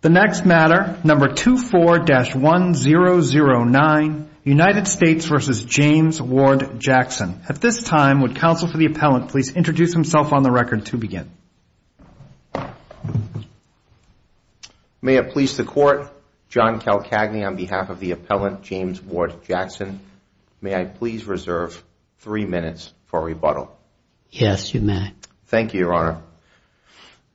The next matter, number 24-1009, United States v. James Ward Jackson. At this time, would counsel for the appellant please introduce himself on the record to begin. May it please the court, John Calcagney on behalf of the appellant, James Ward Jackson, may I please reserve three minutes for rebuttal. Yes, you may. Thank you, your honor.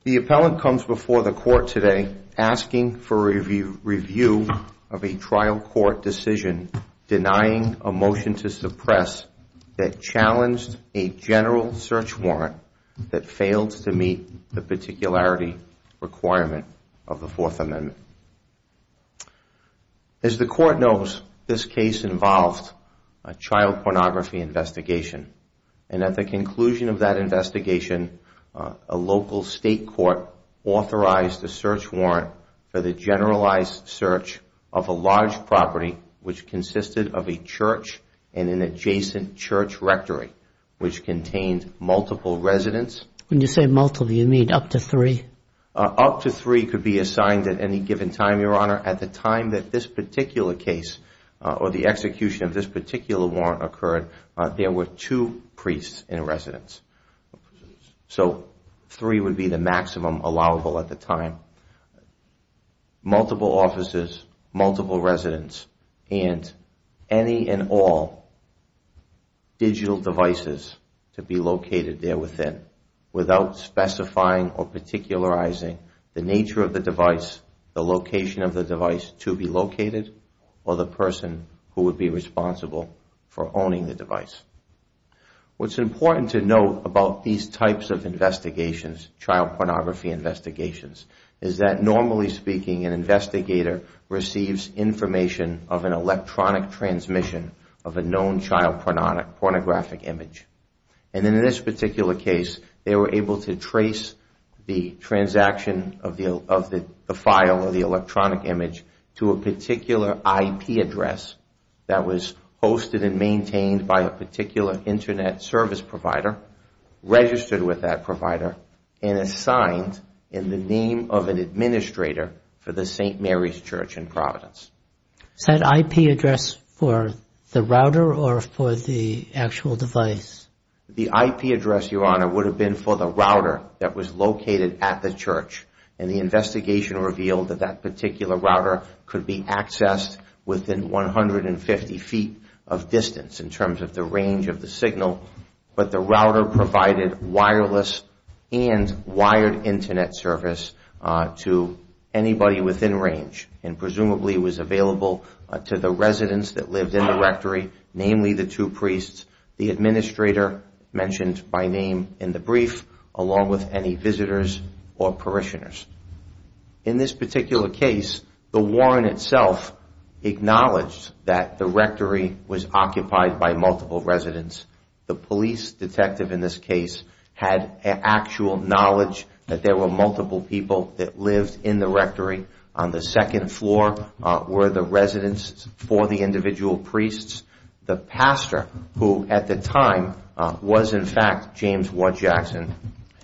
The appellant comes before the court today asking for a review of a trial court decision denying a motion to suppress that challenged a general search warrant that failed to meet the particularity requirement of the Fourth Amendment. As the court knows, this case involved a child pornography investigation. And at the conclusion of that investigation, a local state court authorized a search warrant for the generalized search of a large property which consisted of a church and an adjacent church rectory which contained multiple residents. When you say multiple, you mean up to three? Up to three could be assigned at any given time, your honor. At the time that this particular case or the execution of this particular warrant occurred, there were two priests in residence. So three would be the maximum allowable at the time. Multiple offices, multiple residents, and any and all digital devices to be located there within without specifying or particularizing the nature of the device, the location of the device to be located, or the person who would be responsible for owning the device. What's important to note about these types of investigations, child pornography investigations, is that normally speaking, an investigator receives information of an electronic transmission of a known child pornographic image. And in this particular case, they were able to trace the transaction of the file or the electronic image to a particular IP address that was hosted and maintained by a particular Internet service provider, registered with that provider, and assigned in the name of an administrator for the St. Mary's Church in Providence. Is that IP address for the router or for the actual device? The IP address, your honor, would have been for the router that was located at the church. And the investigation revealed that that particular router could be accessed within 150 feet of distance in terms of the range of the signal. But the router provided wireless and wired Internet service to anybody within range, and presumably was available to the residents that lived in the rectory, namely the two priests, the administrator mentioned by name in the brief, along with any visitors or parishioners. In this particular case, the warrant itself acknowledged that the rectory was occupied by multiple residents. The police detective in this case had actual knowledge that there were multiple people that lived in the rectory. On the second floor were the residents for the individual priests. The pastor, who at the time was in fact James Wood Jackson,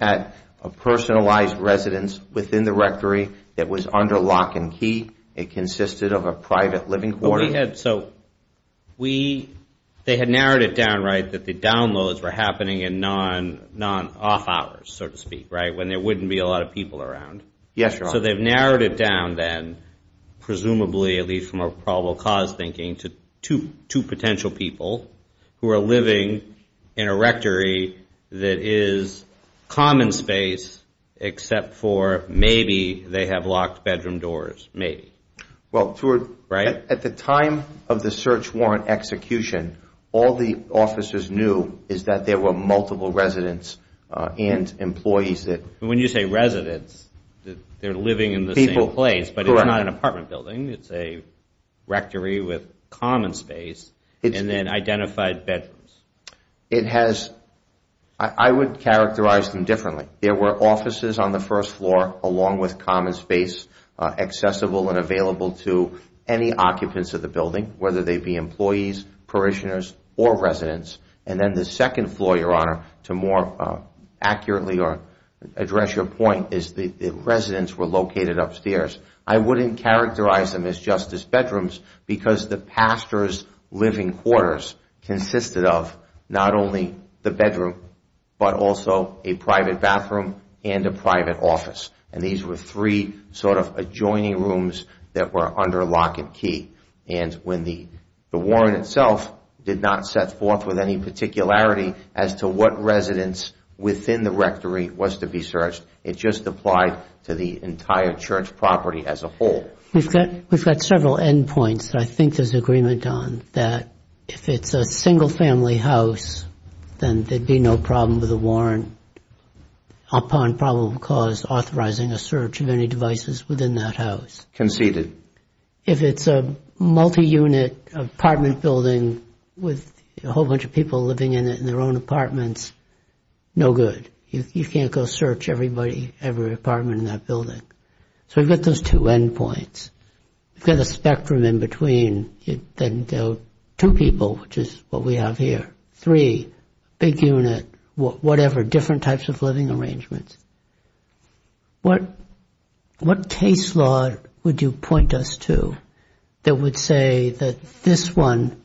had a personalized residence within the rectory that was under lock and key. It consisted of a private living quarter. So they had narrowed it down, right, that the downloads were happening in non-off hours, so to speak, right, when there wouldn't be a lot of people around. Yes, your honor. So they've narrowed it down then, presumably at least from a probable cause thinking, to two potential people who are living in a rectory that is common space, except for maybe they have locked bedroom doors, maybe. Well, at the time of the search warrant execution, all the officers knew is that there were multiple residents and employees that... When you say residents, they're living in the same place, but it's not an apartment building. It's a rectory with common space and then identified bedrooms. It has, I would characterize them differently. There were offices on the first floor along with common space, accessible and available to any occupants of the building, whether they be employees, parishioners, or residents. And then the second floor, your honor, to more accurately address your point, is the residents were located upstairs. I wouldn't characterize them as just as bedrooms, because the pastor's living quarters consisted of not only the bedroom, but also a private bathroom and a private office. And these were three sort of adjoining rooms that were under lock and key. And when the warrant itself did not set forth with any particularity as to what residents within the rectory was to be searched, it just applied to the entire church property as a whole. We've got several endpoints that I think there's agreement on, that if it's a single-family house, then there'd be no problem with a warrant upon probable cause authorizing a search of any devices within that house. Conceded. If it's a multi-unit apartment building with a whole bunch of people living in it in their own apartments, no good. You can't go search everybody, every apartment in that building. So we've got those two endpoints. We've got a spectrum in between. Then there are two people, which is what we have here, three, big unit, whatever, different types of living arrangements. What case law would you point us to that would say that this one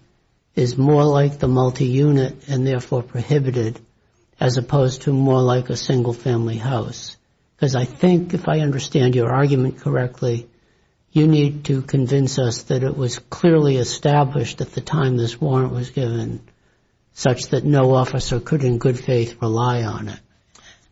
is more like the multi-unit and therefore prohibited as opposed to more like a single-family house? Because I think if I understand your argument correctly, you need to convince us that it was clearly established at the time this warrant was given such that no officer could in good faith rely on it.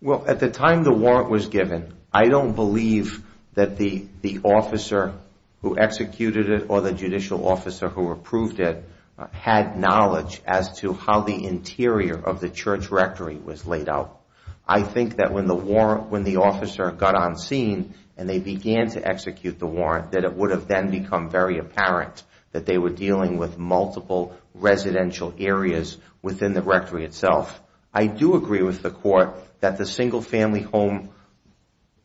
Well, at the time the warrant was given, I don't believe that the officer who executed it or the judicial officer who approved it had knowledge as to how the interior of the church rectory was laid out. I think that when the officer got on scene and they began to execute the warrant, that it would have then become very apparent that they were dealing with multiple residential areas within the rectory itself. I do agree with the court that the single-family home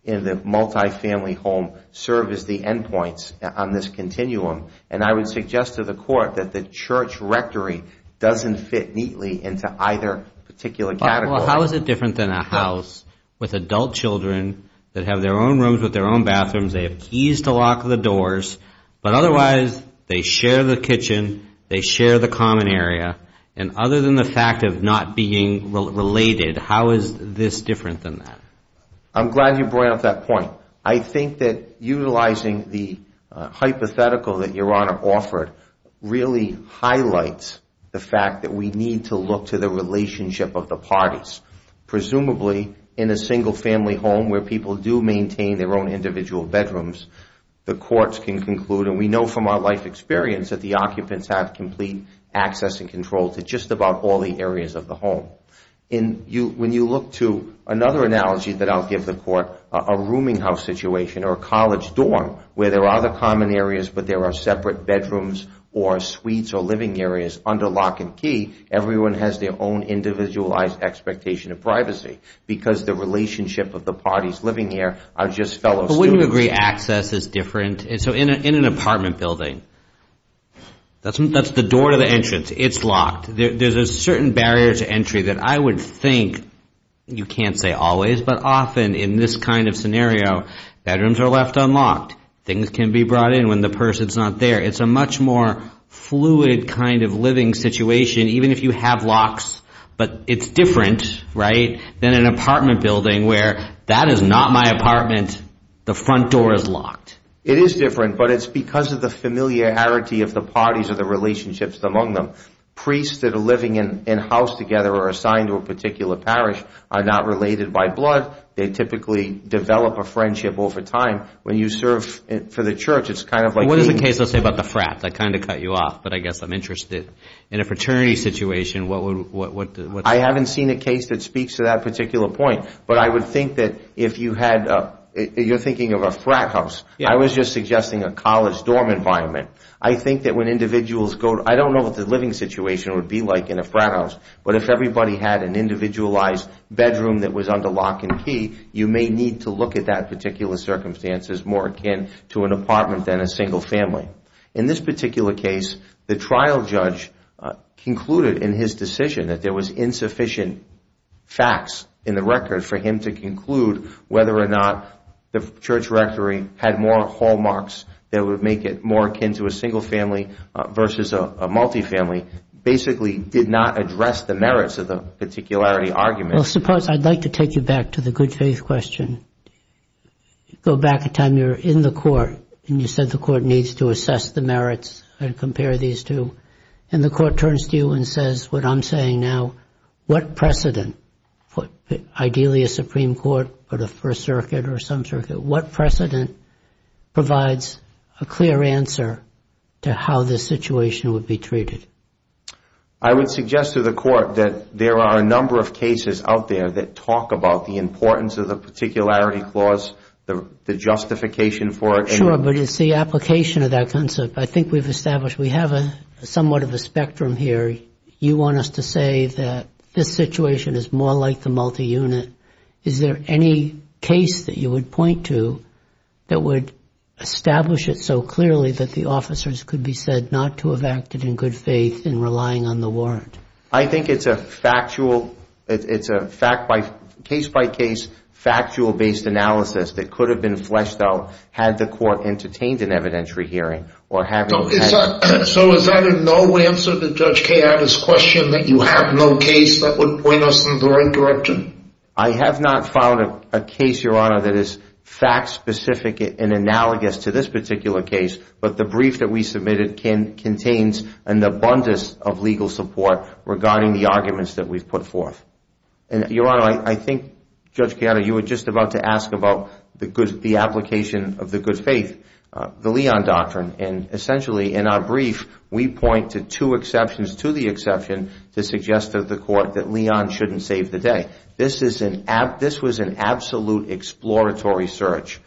and the multi-family home serve as the endpoints on this continuum. And I would suggest to the court that the church rectory doesn't fit neatly into either particular category. How is it different than a house with adult children that have their own rooms with their own bathrooms, they have keys to lock the doors, but otherwise they share the kitchen, they share the common area. And other than the fact of not being related, how is this different than that? I'm glad you brought up that point. I think that utilizing the hypothetical that Your Honor offered really highlights the fact that we need to look to the relationship of the parties. Presumably in a single-family home where people do maintain their own individual bedrooms, the courts can conclude, and we know from our life experience, that the occupants have complete access and control to just about all the areas of the home. When you look to another analogy that I'll give the court, a rooming house situation or a college dorm where there are other common areas but there are separate bedrooms or suites or living areas under lock and key, everyone has their own individualized expectation of privacy because the relationship of the parties living there are just fellow students. The boundary access is different. So in an apartment building, that's the door to the entrance. It's locked. There's a certain barrier to entry that I would think you can't say always, but often in this kind of scenario, bedrooms are left unlocked. Things can be brought in when the person's not there. It's a much more fluid kind of living situation even if you have locks, but it's different than an apartment building where that is not my apartment, the front door is locked. It is different, but it's because of the familiarity of the parties or the relationships among them. Priests that are living in-house together or assigned to a particular parish are not related by blood. They typically develop a friendship over time. When you serve for the church, it's kind of like teaming up. What is the case, let's say, about the frat that kind of cut you off, but I guess I'm interested. In a fraternity situation, what's the case? I haven't seen a case that speaks to that particular point, but I would think that if you're thinking of a frat house, I was just suggesting a college dorm environment. I think that when individuals go to – I don't know what the living situation would be like in a frat house, but if everybody had an individualized bedroom that was under lock and key, you may need to look at that particular circumstance as more akin to an apartment than a single family. In this particular case, the trial judge concluded in his decision that there was insufficient facts in the record for him to conclude whether or not the church rectory had more hallmarks that would make it more akin to a single family versus a multifamily, basically did not address the merits of the particularity argument. Well, suppose I'd like to take you back to the good faith question. Go back to the time you were in the court and you said the court needs to assess the merits and compare these two, and the court turns to you and says what I'm saying now, what precedent, ideally a Supreme Court or the First Circuit or some circuit, what precedent provides a clear answer to how this situation would be treated? I would suggest to the court that there are a number of cases out there that talk about the importance of the particularity clause, the justification for it. Sure, but it's the application of that concept. I think we've established we have somewhat of a spectrum here. You want us to say that this situation is more like the multiunit. Is there any case that you would point to that would establish it so clearly that the officers could be said not to have acted in good faith in relying on the warrant? I think it's a case-by-case factual-based analysis that could have been fleshed out had the court entertained an evidentiary hearing. So is there no answer to Judge Keada's question that you have no case that would point us in the right direction? I have not found a case, Your Honor, that is fact-specific and analogous to this particular case, but the brief that we submitted contains an abundance of legal support regarding the arguments that we've put forth. Your Honor, I think, Judge Keada, you were just about to ask about the application of the good faith, the Leon Doctrine. Essentially, in our brief, we point to two exceptions to the exception to suggest to the court that Leon shouldn't save the day. This was an absolute exploratory search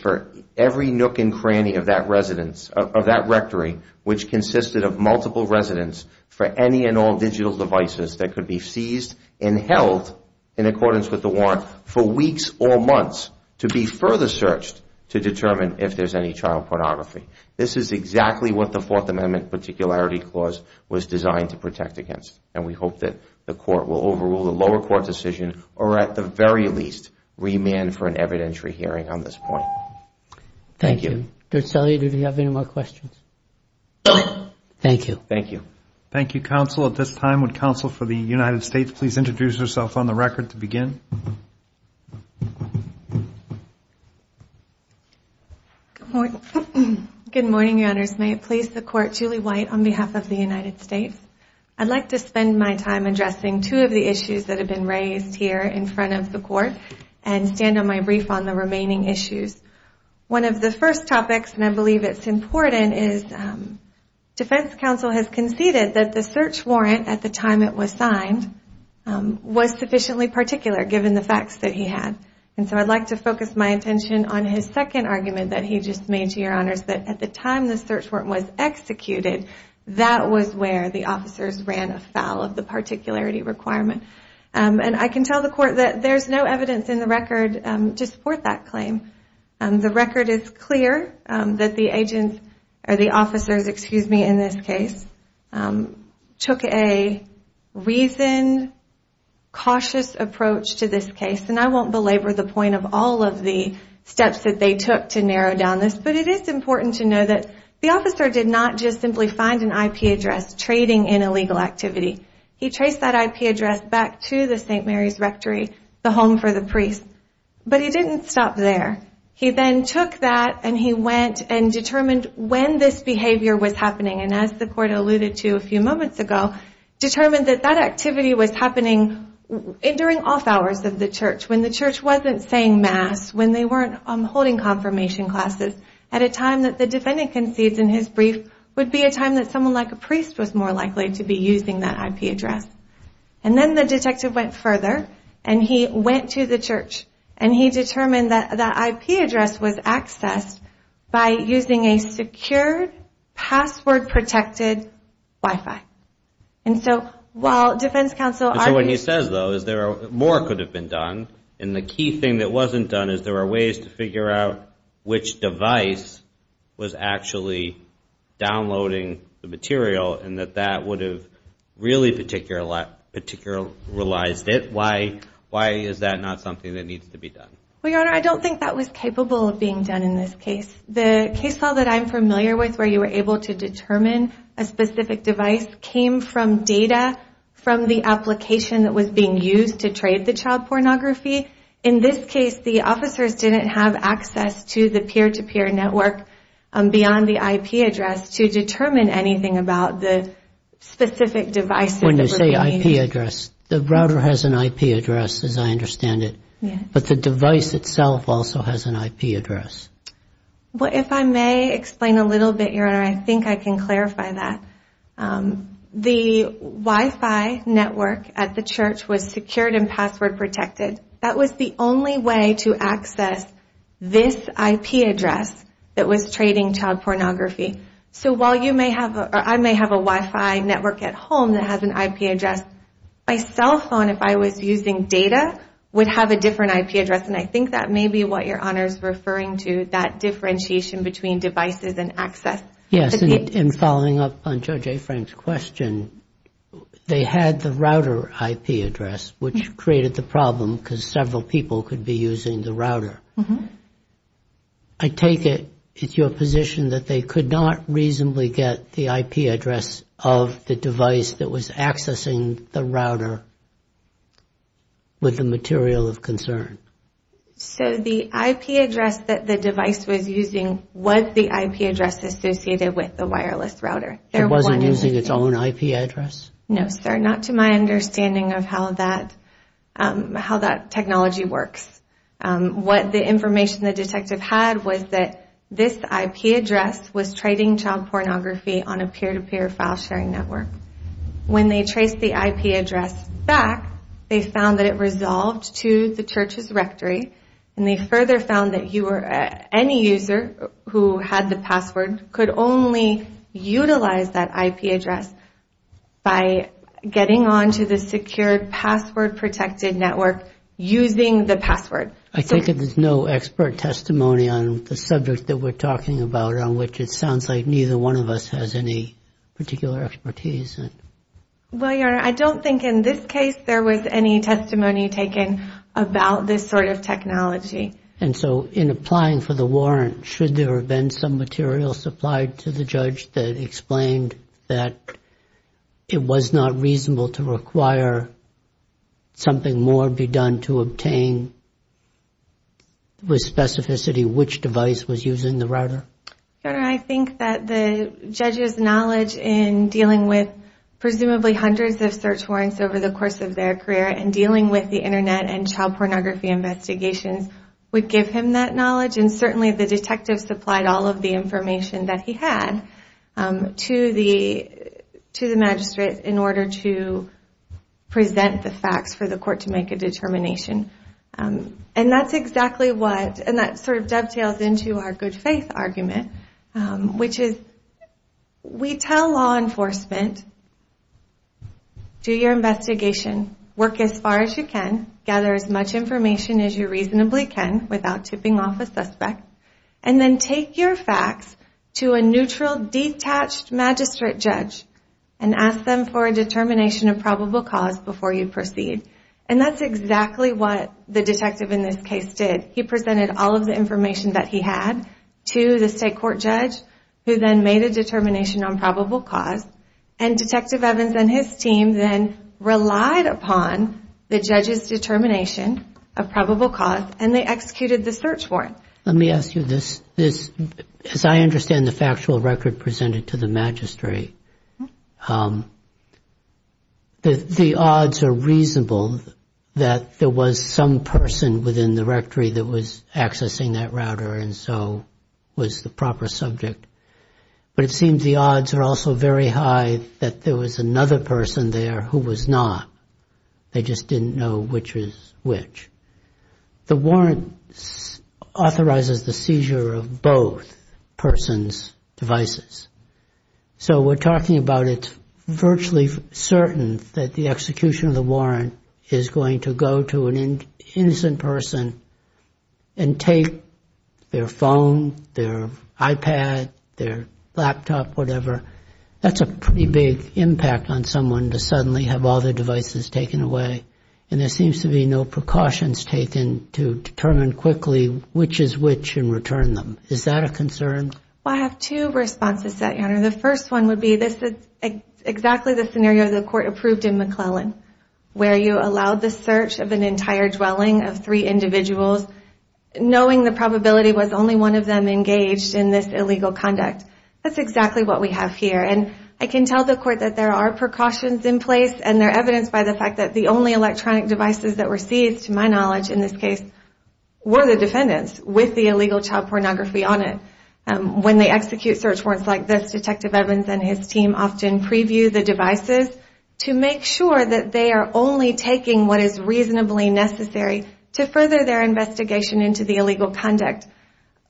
for every nook and cranny of that residence, of that rectory, which consisted of multiple residents for any and all digital devices that could be seized and held in accordance with the warrant for weeks or months to be further searched to determine if there's any child pornography. This is exactly what the Fourth Amendment Particularity Clause was designed to protect against, and we hope that the court will overrule the lower court decision or at the very least remand for an evidentiary hearing on this point. Thank you. Judge Sellier, do you have any more questions? Thank you. Thank you. Thank you, counsel. At this time, would counsel for the United States please introduce herself on the record to begin? Good morning, Your Honors. May it please the court, Julie White on behalf of the United States. I'd like to spend my time addressing two of the issues that have been raised here in front of the court and stand on my brief on the remaining issues. One of the first topics, and I believe it's important, is defense counsel has conceded that the search warrant at the time it was signed was sufficiently particular given the facts that he had. And so I'd like to focus my attention on his second argument that he just made, Your Honors, that at the time the search warrant was executed, that was where the officers ran afoul of the particularity requirement. And I can tell the court that there's no evidence in the record to support that claim. The record is clear that the officers in this case took a reasoned, cautious approach to this case. And I won't belabor the point of all of the steps that they took to narrow down this, but it is important to know that the officer did not just simply find an IP address trading in illegal activity. He traced that IP address back to the St. Mary's Rectory, the home for the priest. But he didn't stop there. He then took that and he went and determined when this behavior was happening. And as the court alluded to a few moments ago, determined that that activity was happening during off hours of the church, when the church wasn't saying mass, when they weren't holding confirmation classes, at a time that the defendant concedes in his brief would be a time that someone like a priest was more likely to be using that IP address. And then the detective went further and he went to the church and he determined that that IP address was accessed by using a secured, password-protected Wi-Fi. And so while defense counsel argued... So what he says, though, is more could have been done. And the key thing that wasn't done is there were ways to figure out which device was actually downloading the material and that that would have really particularized it. Why is that not something that needs to be done? Well, Your Honor, I don't think that was capable of being done in this case. The case file that I'm familiar with where you were able to determine a specific device came from data from the application that was being used to trade the child pornography. In this case, the officers didn't have access to the peer-to-peer network beyond the IP address to determine anything about the specific devices that were being used. When you say IP address, the router has an IP address, as I understand it, but the device itself also has an IP address. Well, if I may explain a little bit, Your Honor, I think I can clarify that. The Wi-Fi network at the church was secured and password-protected. That was the only way to access this IP address that was trading child pornography. So while I may have a Wi-Fi network at home that has an IP address, my cell phone, if I was using data, would have a different IP address, and I think that may be what Your Honor is referring to, that differentiation between devices and access. Yes, and following up on Judge A. Frank's question, they had the router IP address, which created the problem because several people could be using the router. I take it it's your position that they could not reasonably get the IP address of the device that was accessing the router with the material of concern? So the IP address that the device was using was the IP address associated with the wireless router. It wasn't using its own IP address? No, sir, not to my understanding of how that technology works. What the information the detective had was that this IP address was trading child pornography on a peer-to-peer file sharing network. When they traced the IP address back, they found that it resolved to the church's rectory, and they further found that any user who had the password could only utilize that IP address by getting on to the secure password-protected network using the password. I take it there's no expert testimony on the subject that we're talking about, on which it sounds like neither one of us has any particular expertise? Well, Your Honor, I don't think in this case there was any testimony taken about this sort of technology. And so in applying for the warrant, should there have been some material supplied to the judge that explained that it was not reasonable to require something more be done to obtain with specificity which device was using the router? Your Honor, I think that the judge's knowledge in dealing with presumably hundreds of search warrants over the course of their career and dealing with the Internet and child pornography investigations would give him that knowledge. And certainly the detective supplied all of the information that he had to the magistrate in order to present the facts for the court to make a determination. And that sort of dovetails into our good faith argument, which is we tell law enforcement, do your investigation, work as far as you can, gather as much information as you reasonably can without tipping off a suspect, and then take your facts to a neutral, detached magistrate judge and ask them for a determination of probable cause before you proceed. And that's exactly what the detective in this case did. He presented all of the information that he had to the state court judge who then made a determination on probable cause. And Detective Evans and his team then relied upon the judge's determination of probable cause and they executed the search warrant. Let me ask you this. As I understand the factual record presented to the magistrate, the odds are reasonable that there was some person within the rectory that was accessing that router and so was the proper subject. But it seems the odds are also very high that there was another person there who was not. They just didn't know which was which. The warrant authorizes the seizure of both persons' devices. So we're talking about it's virtually certain that the execution of the warrant is going to go to an innocent person and take their phone, their iPad, their laptop, whatever. That's a pretty big impact on someone to suddenly have all their devices taken away. And there seems to be no precautions taken to determine quickly which is which and return them. Is that a concern? Well, I have two responses to that, Your Honor. The first one would be this is exactly the scenario the court approved in McClellan where you allowed the search of an entire dwelling of three individuals knowing the probability was only one of them engaged in this illegal conduct. That's exactly what we have here. And I can tell the court that there are precautions in place and they're evidenced by the fact that the only electronic devices that were seized, to my knowledge in this case, were the defendants with the illegal child pornography on it. When they execute search warrants like this, Detective Evans and his team often preview the devices to make sure that they are only taking what is reasonably necessary to further their investigation into the illegal conduct.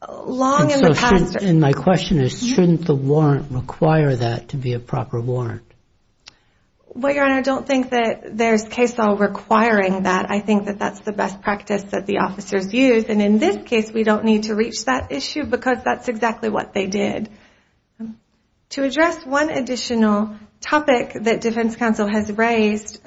And my question is shouldn't the warrant require that to be a proper warrant? Well, Your Honor, I don't think that there's case law requiring that. I think that that's the best practice that the officers use. And in this case, we don't need to reach that issue because that's exactly what they did. To address one additional topic that Defense Counsel has raised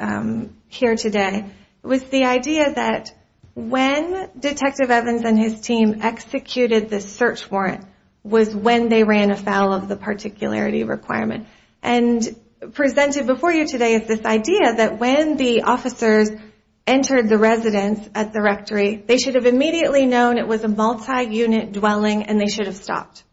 here today was the idea that when Detective Evans and his team executed the search warrant was when they ran afoul of the particularity requirement. And presented before you today is this idea that when the officers entered the residence at the rectory, they should have immediately known it was a multi-unit dwelling and they should have stopped.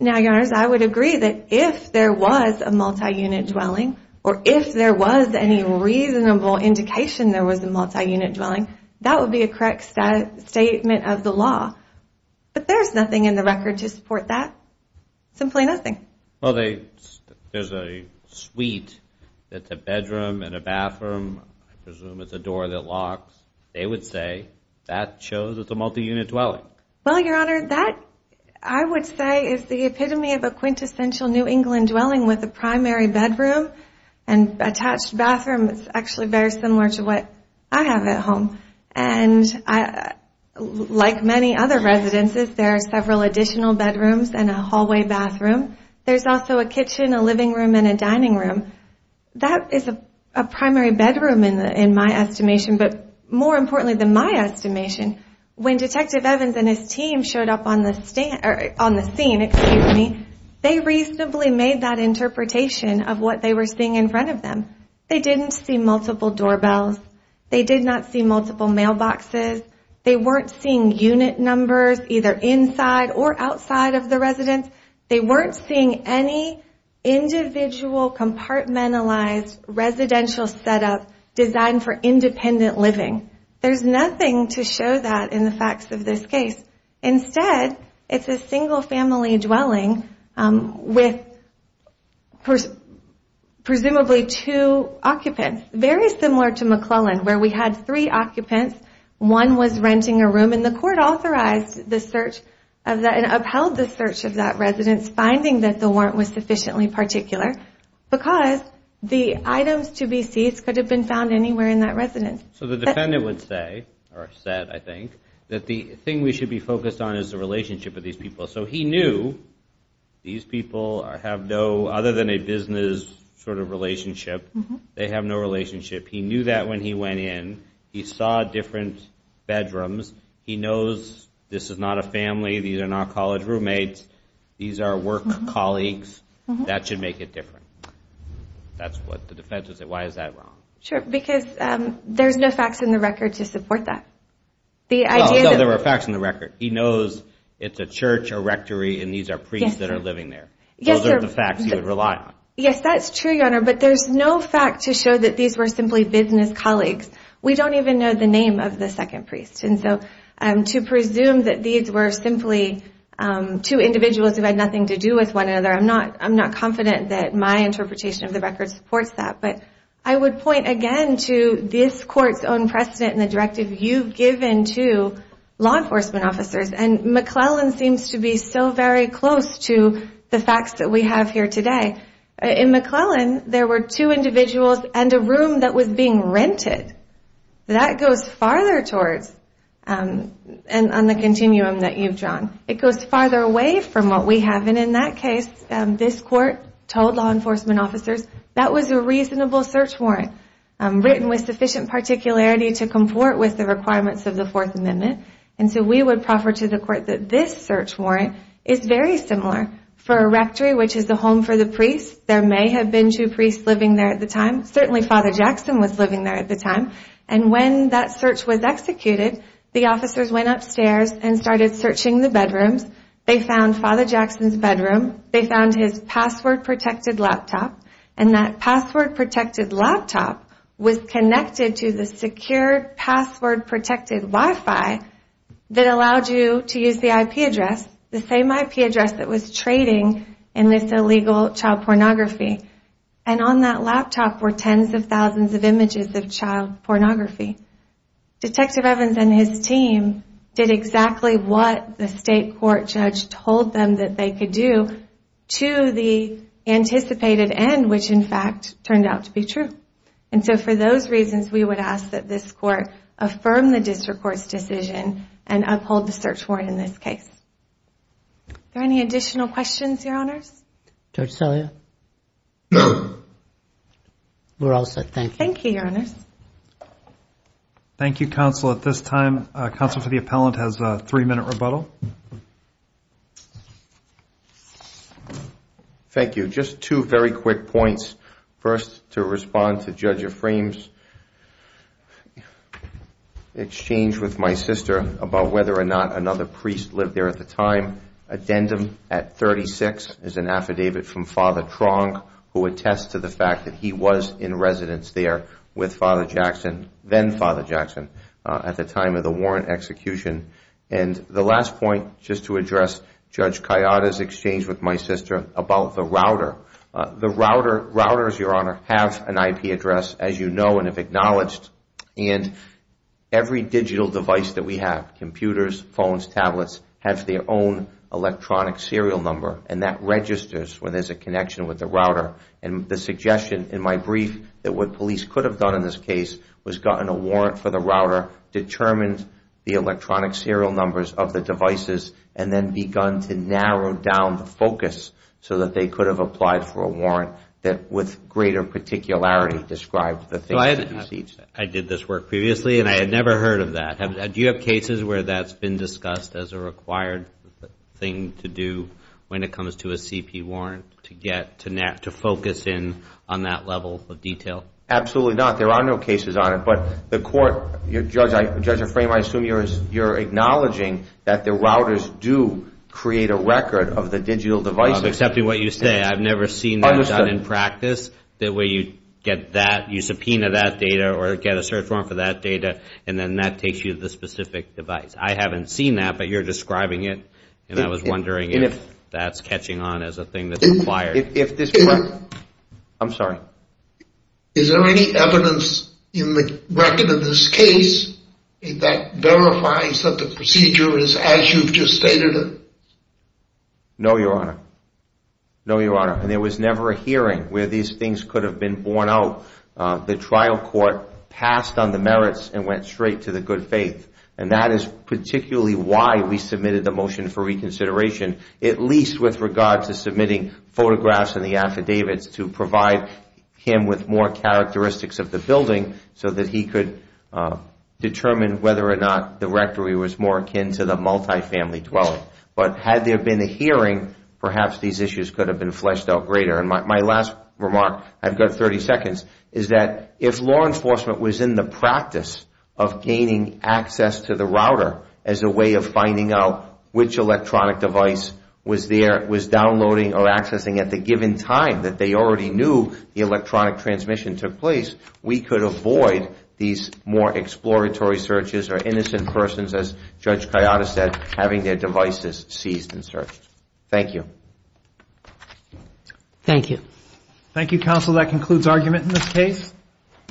Now, Your Honors, I would agree that if there was a multi-unit dwelling, or if there was any reasonable indication there was a multi-unit dwelling, that would be a correct statement of the law. But there's nothing in the record to support that. Simply nothing. Well, there's a suite that's a bedroom and a bathroom, I presume it's a door that locks. They would say that shows it's a multi-unit dwelling. Well, Your Honor, that I would say is the epitome of a quintessential New England dwelling with a primary bedroom and attached bathroom. It's actually very similar to what I have at home. And like many other residences, there are several additional bedrooms and a hallway bathroom. There's also a kitchen, a living room, and a dining room. That is a primary bedroom in my estimation, but more importantly than my estimation, when Detective Evans and his team showed up on the scene, they reasonably made that interpretation of what they were seeing in front of them. They didn't see multiple doorbells. They did not see multiple mailboxes. They weren't seeing unit numbers either inside or outside of the residence. They weren't seeing any individual compartmentalized residential setup designed for independent living. There's nothing to show that in the facts of this case. Instead, it's a single family dwelling with presumably two occupants. Very similar to McClellan, where we had three occupants. One was renting a room, and the court upheld the search of that residence, finding that the warrant was sufficiently particular because the items to be seized could have been found anywhere in that residence. So the defendant would say, or said, I think, that the thing we should be focused on is the relationship of these people. So he knew these people have no other than a business sort of relationship. They have no relationship. He knew that when he went in. He saw different bedrooms. He knows this is not a family. These are not college roommates. These are work colleagues. That should make it different. That's what the defense would say. Why is that wrong? Sure, because there's no facts in the record to support that. No, there are facts in the record. He knows it's a church, a rectory, and these are priests that are living there. Those are the facts he would rely on. Yes, that's true, Your Honor, but there's no fact to show that these were simply business colleagues. We don't even know the name of the second priest. And so to presume that these were simply two individuals who had nothing to do with one another, I'm not confident that my interpretation of the record supports that. But I would point again to this court's own precedent and the directive you've given to law enforcement officers, and McClellan seems to be so very close to the facts that we have here today. In McClellan, there were two individuals and a room that was being rented. That goes farther towards, and on the continuum that you've drawn, it goes farther away from what we have. And in that case, this court told law enforcement officers that was a reasonable search warrant written with sufficient particularity to comport with the requirements of the Fourth Amendment. And so we would proffer to the court that this search warrant is very similar for a rectory, which is the home for the priest. There may have been two priests living there at the time. Certainly Father Jackson was living there at the time. And when that search was executed, the officers went upstairs and started searching the bedrooms. They found Father Jackson's bedroom. They found his password-protected laptop. And that password-protected laptop was connected to the secure password-protected Wi-Fi that allowed you to use the IP address, the same IP address that was trading in this illegal child pornography. And on that laptop were tens of thousands of images of child pornography. Detective Evans and his team did exactly what the state court judge told them that they could do to the anticipated end, which in fact turned out to be true. And so for those reasons, we would ask that this court affirm the district court's decision and uphold the search warrant in this case. Are there any additional questions, Your Honors? Judge Salia? We're all set. Thank you. Thank you, Your Honors. Thank you, Counsel. At this time, Counsel for the Appellant has a three-minute rebuttal. Thank you. Just two very quick points. First, to respond to Judge Ephraim's exchange with my sister about whether or not another priest lived there at the time. Addendum at 36 is an affidavit from Father Tronck, who attests to the fact that he was in residence there with Father Jackson, then Father Jackson, at the time of the warrant execution. And the last point, just to address Judge Kayada's exchange with my sister about the router. The routers, Your Honor, have an IP address, as you know and have acknowledged. And every digital device that we have, computers, phones, tablets, have their own electronic serial number. And that registers when there's a connection with the router. And the suggestion in my brief that what police could have done in this case was gotten a warrant for the router, determined the electronic serial numbers of the devices, and then begun to narrow down the focus so that they could have applied for a warrant that with greater particularity described the things that you see. I did this work previously, and I had never heard of that. Do you have cases where that's been discussed as a required thing to do when it comes to a CP warrant to focus in on that level of detail? Absolutely not. There are no cases on it. But the court, Judge Ephraim, I assume you're acknowledging that the routers do create a record of the digital devices. I'm accepting what you say. I've never seen that done in practice. The way you get that, you subpoena that data or get a search warrant for that data, and then that takes you to the specific device. I haven't seen that, but you're describing it, and I was wondering if that's catching on as a thing that's required. I'm sorry. Is there any evidence in the record of this case that verifies that the procedure is as you've just stated it? No, Your Honor. No, Your Honor. There was never a hearing where these things could have been borne out. The trial court passed on the merits and went straight to the good faith, and that is particularly why we submitted the motion for reconsideration, at least with regard to submitting photographs and the affidavits to provide him with more characteristics of the building so that he could determine whether or not the rectory was more akin to the multifamily dwelling. But had there been a hearing, perhaps these issues could have been fleshed out greater. And my last remark, I've got 30 seconds, is that if law enforcement was in the practice of gaining access to the router as a way of finding out which electronic device was downloading or accessing at the given time that they already knew the electronic transmission took place, we could avoid these more exploratory searches or innocent persons, as Judge Kayada said, having their devices seized and searched. Thank you. Thank you. Thank you, counsel. That concludes argument in this case.